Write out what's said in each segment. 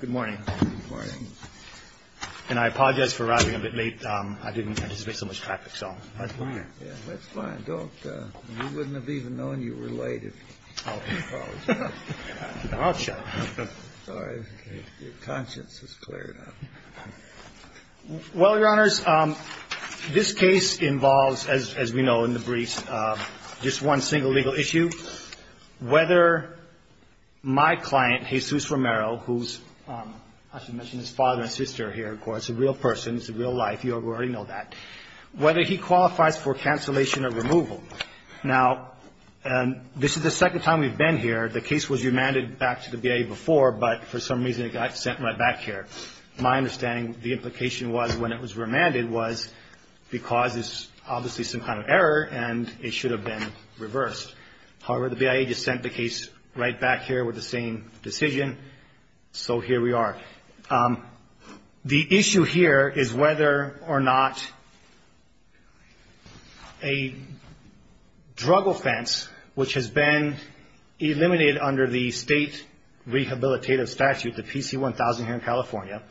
Good morning. Good morning. And I apologize for arriving a bit late. I didn't anticipate so much traffic, so that's fine. Yeah, that's fine. You wouldn't have even known you were late if you followed me. I'll check. Sorry. Your conscience is cleared up. Well, Your Honors, this case involves, as we know in the briefs, just one single legal issue. Whether my client, Jesus Romero, who's, I should mention his father and sister here, of course, a real person, it's a real life, you already know that, whether he qualifies for cancellation or removal. Now, this is the second time we've been here. The case was remanded back to the VA before, but for some reason it got sent right back here. My understanding, the implication was when it was remanded was because it's obviously some kind of error and it should have been reversed. However, the VA just sent the case right back here with the same decision, so here we are. The issue here is whether or not a drug offense, which has been eliminated under the state rehabilitative statute, the PC-1000 here in California,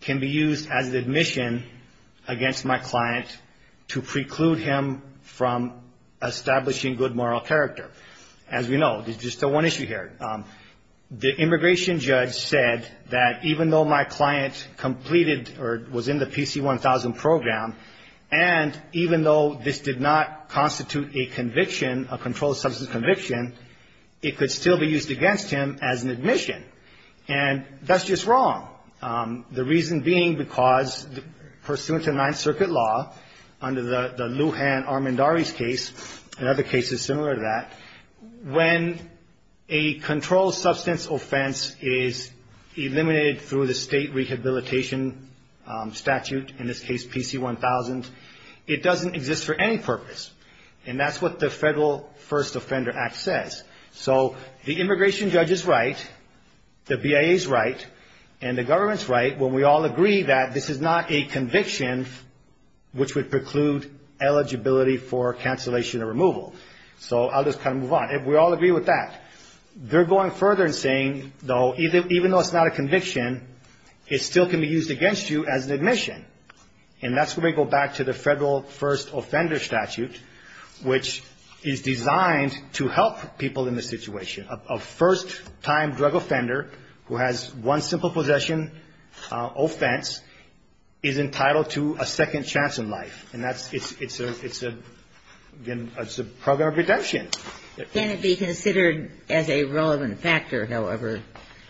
can be used as an admission against my client to preclude him from establishing good moral character. As we know, there's just one issue here. The immigration judge said that even though my client completed or was in the PC-1000 program, and even though this did not constitute a conviction, a controlled substance conviction, it could still be used against him as an admission. And that's just wrong. The reason being because pursuant to the Ninth Circuit law, under the Lujan Armendariz case, another case is similar to that, when a controlled substance offense is eliminated through the state rehabilitation statute, in this case PC-1000, it doesn't exist for any purpose. And that's what the Federal First Offender Act says. So the immigration judge is right, the BIA is right, and the government is right when we all agree that this is not a conviction which would preclude eligibility for cancellation or removal. So I'll just kind of move on. We all agree with that. They're going further and saying, though, even though it's not a conviction, it still can be used against you as an admission. And that's when we go back to the Federal First Offender statute, which is designed to help people in this situation. A first-time drug offender who has one simple possession offense is entitled to a second chance in life. And that's the program of redemption. Can it be considered as a relevant factor, however,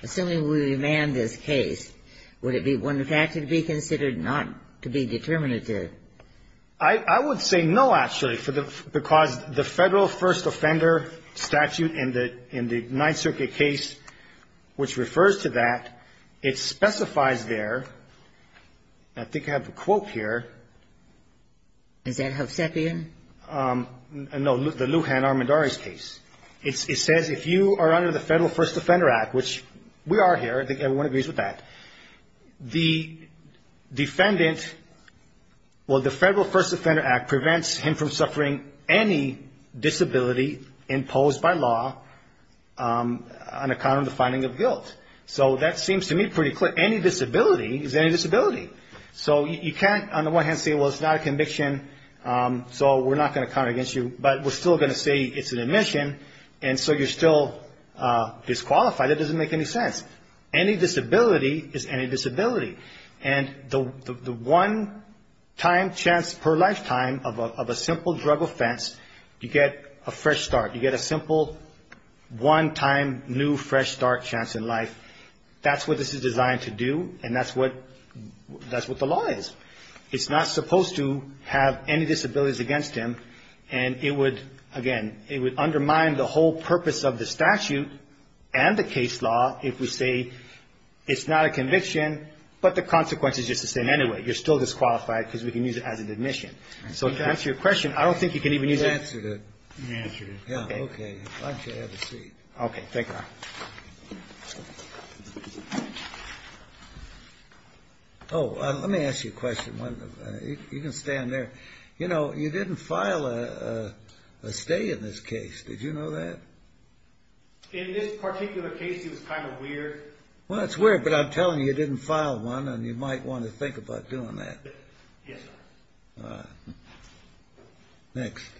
assuming we remand this case? Would it be one factor to be considered not to be determinative? I would say no, actually, because the Federal First Offender statute in the Ninth Circuit case, which refers to that, it specifies there, I think I have a quote here. Is that Hovsepian? No, the Lujan-Armandares case. It says if you are under the Federal First Offender Act, which we are here, I think the defendant, well, the Federal First Offender Act prevents him from suffering any disability imposed by law on account of the finding of guilt. So that seems to me pretty clear. Any disability is any disability. So you can't, on the one hand, say, well, it's not a conviction, so we're not going to count it against you. But we're still going to say it's an admission, and so you're still disqualified. That doesn't make any sense. Any disability is any disability. And the one-time chance per lifetime of a simple drug offense, you get a fresh start. You get a simple one-time new fresh start chance in life. That's what this is designed to do, and that's what the law is. It's not supposed to have any disabilities against him, and it would, again, it would say it's not a conviction, but the consequence is just the same anyway. You're still disqualified because we can use it as an admission. So to answer your question, I don't think you can even use it. You answered it. You answered it. Yeah, okay. Why don't you have a seat? Okay, thank you. Oh, let me ask you a question. You can stand there. You know, you didn't file a stay in this case. Did you know that? In this particular case, it was kind of weird. Well, it's weird, but I'm telling you, you didn't file one, and you might want to think about doing that. Yes, sir. All right. Next.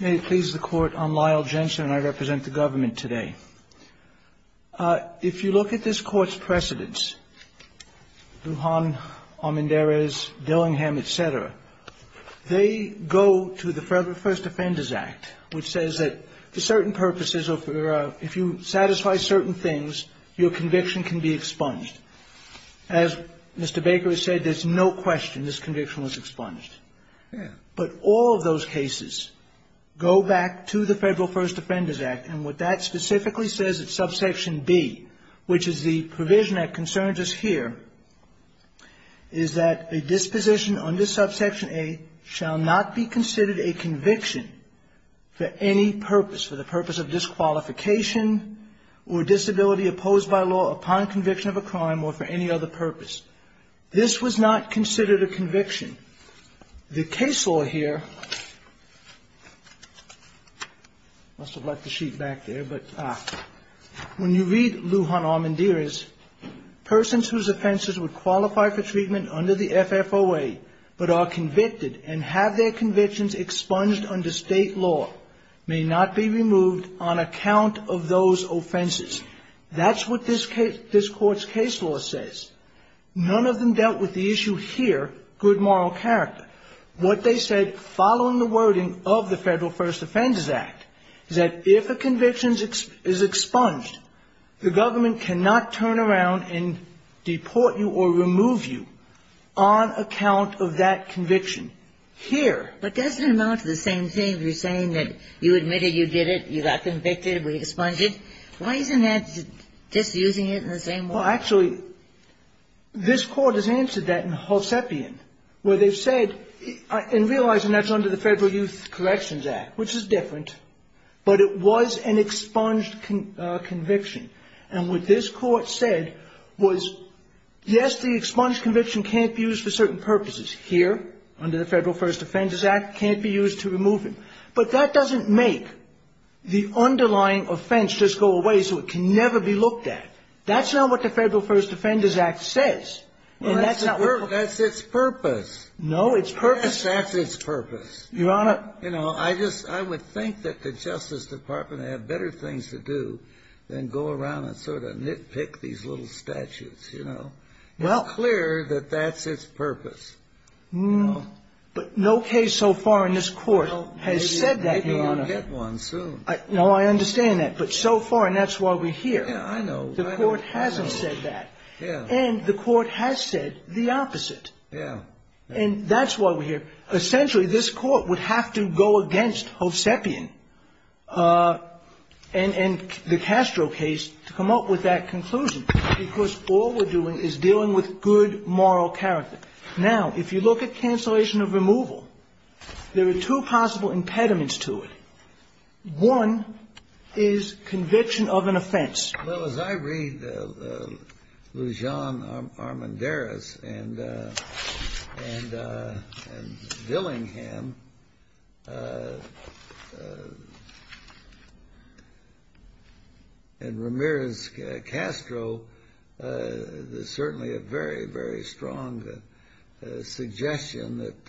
May it please the Court, I'm Lyle Jensen, and I represent the government today. If you look at this Court's precedents, Lujan, Armendariz, Dillingham, et cetera, they go to the Federal First Offenders Act, which says that for certain purposes or if you satisfy certain things, your conviction can be expunged. As Mr. Baker has said, there's no question this conviction was expunged. But all of those cases go back to the Federal First Offenders Act, and what that specifically says at subsection B, which is the provision that concerns us here, is that a disposition under subsection A shall not be considered a conviction for any purpose, for the purpose of disqualification or disability opposed by law upon conviction of a crime or for any other purpose. This was not considered a conviction. The case law here, I must have left the sheet back there, but when you read Lujan Armendariz, persons whose offenses would qualify for treatment under the FFOA but are convicted and have their convictions expunged under state law may not be removed on account of those offenses. That's what this Court's case law says. None of them dealt with the issue here, good moral character. What they said following the wording of the Federal First Offenders Act is that if a conviction is expunged, the government cannot turn around and deport you or remove you on account of that conviction here. But doesn't it amount to the same thing? You're saying that you admitted you did it, you got convicted, we expunged it. Why isn't that just using it in the same way? Well, actually, this Court has answered that in Halsepian, where they've said, and realizing that's under the Federal Youth Corrections Act, which is different, but it was an expunged conviction. And what this Court said was, yes, the expunged conviction can't be used for certain purposes. Here, under the Federal First Offenders Act, it can't be used to remove him. But that doesn't make the underlying offense just go away so it can never be looked at. That's not what the Federal First Offenders Act says. And that's not what the Court says. That's its purpose. No, it's purpose. That's its purpose. Your Honor. You know, I just, I would think that the Justice Department had better things to do than go around and sort of nitpick these little statutes, you know. Well. It's clear that that's its purpose. No. But no case so far in this Court has said that, Your Honor. Maybe we'll get one soon. No, I understand that. But so far, and that's why we're here. Yeah, I know. The Court hasn't said that. Yeah. And the Court has said the opposite. Yeah. And that's why we're here. Essentially, this Court would have to go against Hovsepian and the Castro case to come up with that conclusion, because all we're doing is dealing with good moral character. Now, if you look at cancellation of removal, there are two possible impediments to it. One is conviction of an offense. Well, as I read Lujan Armendariz and Dillingham and Ramirez Castro, there's certainly a very, very strong suggestion that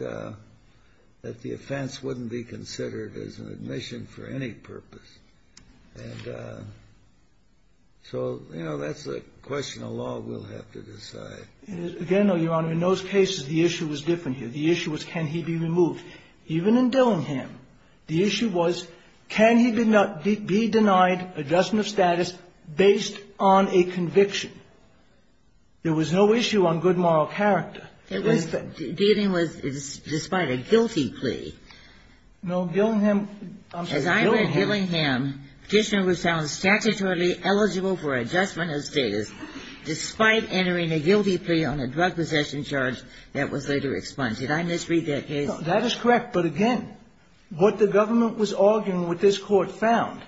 the offense wouldn't be considered as an admission for any purpose. And so, you know, that's a question of law we'll have to decide. Again, Your Honor, in those cases, the issue was different here. The issue was can he be removed. Even in Dillingham, the issue was can he be denied adjustment of status based on a conviction. There was no issue on good moral character. Dillingham was despite a guilty plea. No, Dillingham, I'm sorry, Dillingham. As I read Dillingham, petitioner was found statutorily eligible for adjustment of status despite entering a guilty plea on a drug possession charge that was later expunged. Did I misread that case? No, that is correct. But again, what the government was arguing, what this Court found,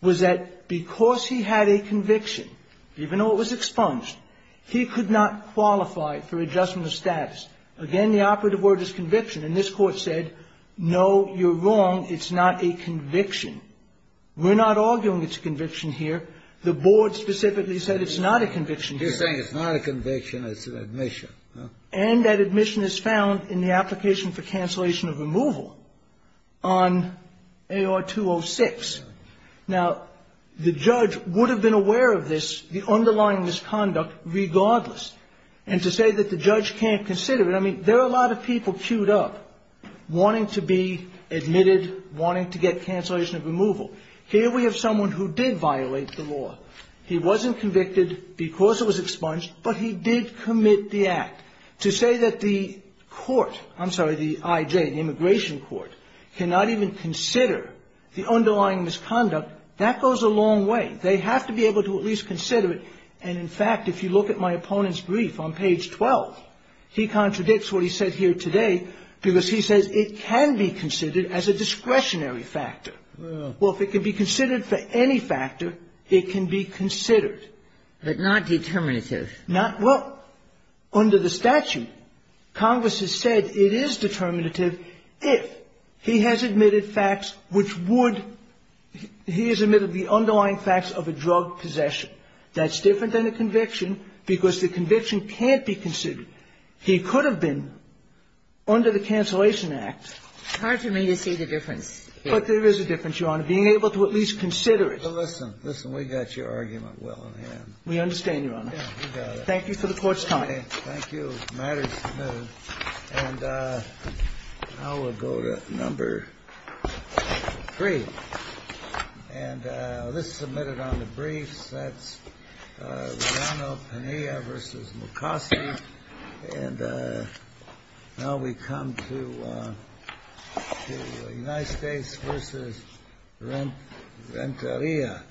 was that because he had a conviction, even though it was expunged, he could not qualify for adjustment of status. Again, the operative word is conviction. And this Court said, no, you're wrong. It's not a conviction. We're not arguing it's a conviction here. The Board specifically said it's not a conviction here. You're saying it's not a conviction, it's an admission. And that admission is found in the application for cancellation of removal on AR-206. Now, the judge would have been aware of this, the underlying misconduct, regardless. And to say that the judge can't consider it, I mean, there are a lot of people queued up wanting to be admitted, wanting to get cancellation of removal. Here we have someone who did violate the law. He wasn't convicted because it was expunged, but he did commit the act. To say that the court, I'm sorry, the I.J., the immigration court, cannot even consider the underlying misconduct, that goes a long way. They have to be able to at least consider it. And, in fact, if you look at my opponent's brief on page 12, he contradicts what he said here today because he says it can be considered as a discretionary factor. Well, if it can be considered for any factor, it can be considered. But not determinative. Not what? Under the statute, Congress has said it is determinative if he has admitted facts which would he has admitted the underlying facts of a drug possession. That's different than a conviction because the conviction can't be considered. He could have been under the Cancellation Act. It's hard for me to see the difference here. But there is a difference, Your Honor, being able to at least consider it. Well, listen, listen. We got your argument well in hand. We understand, Your Honor. Yeah, we got it. Thank you for the Court's time. Thank you. The matter is submitted. And now we'll go to number three. And this is submitted on the briefs. That's Reano-Pena vs. McCoskey. And now we come to United States vs. Renteria.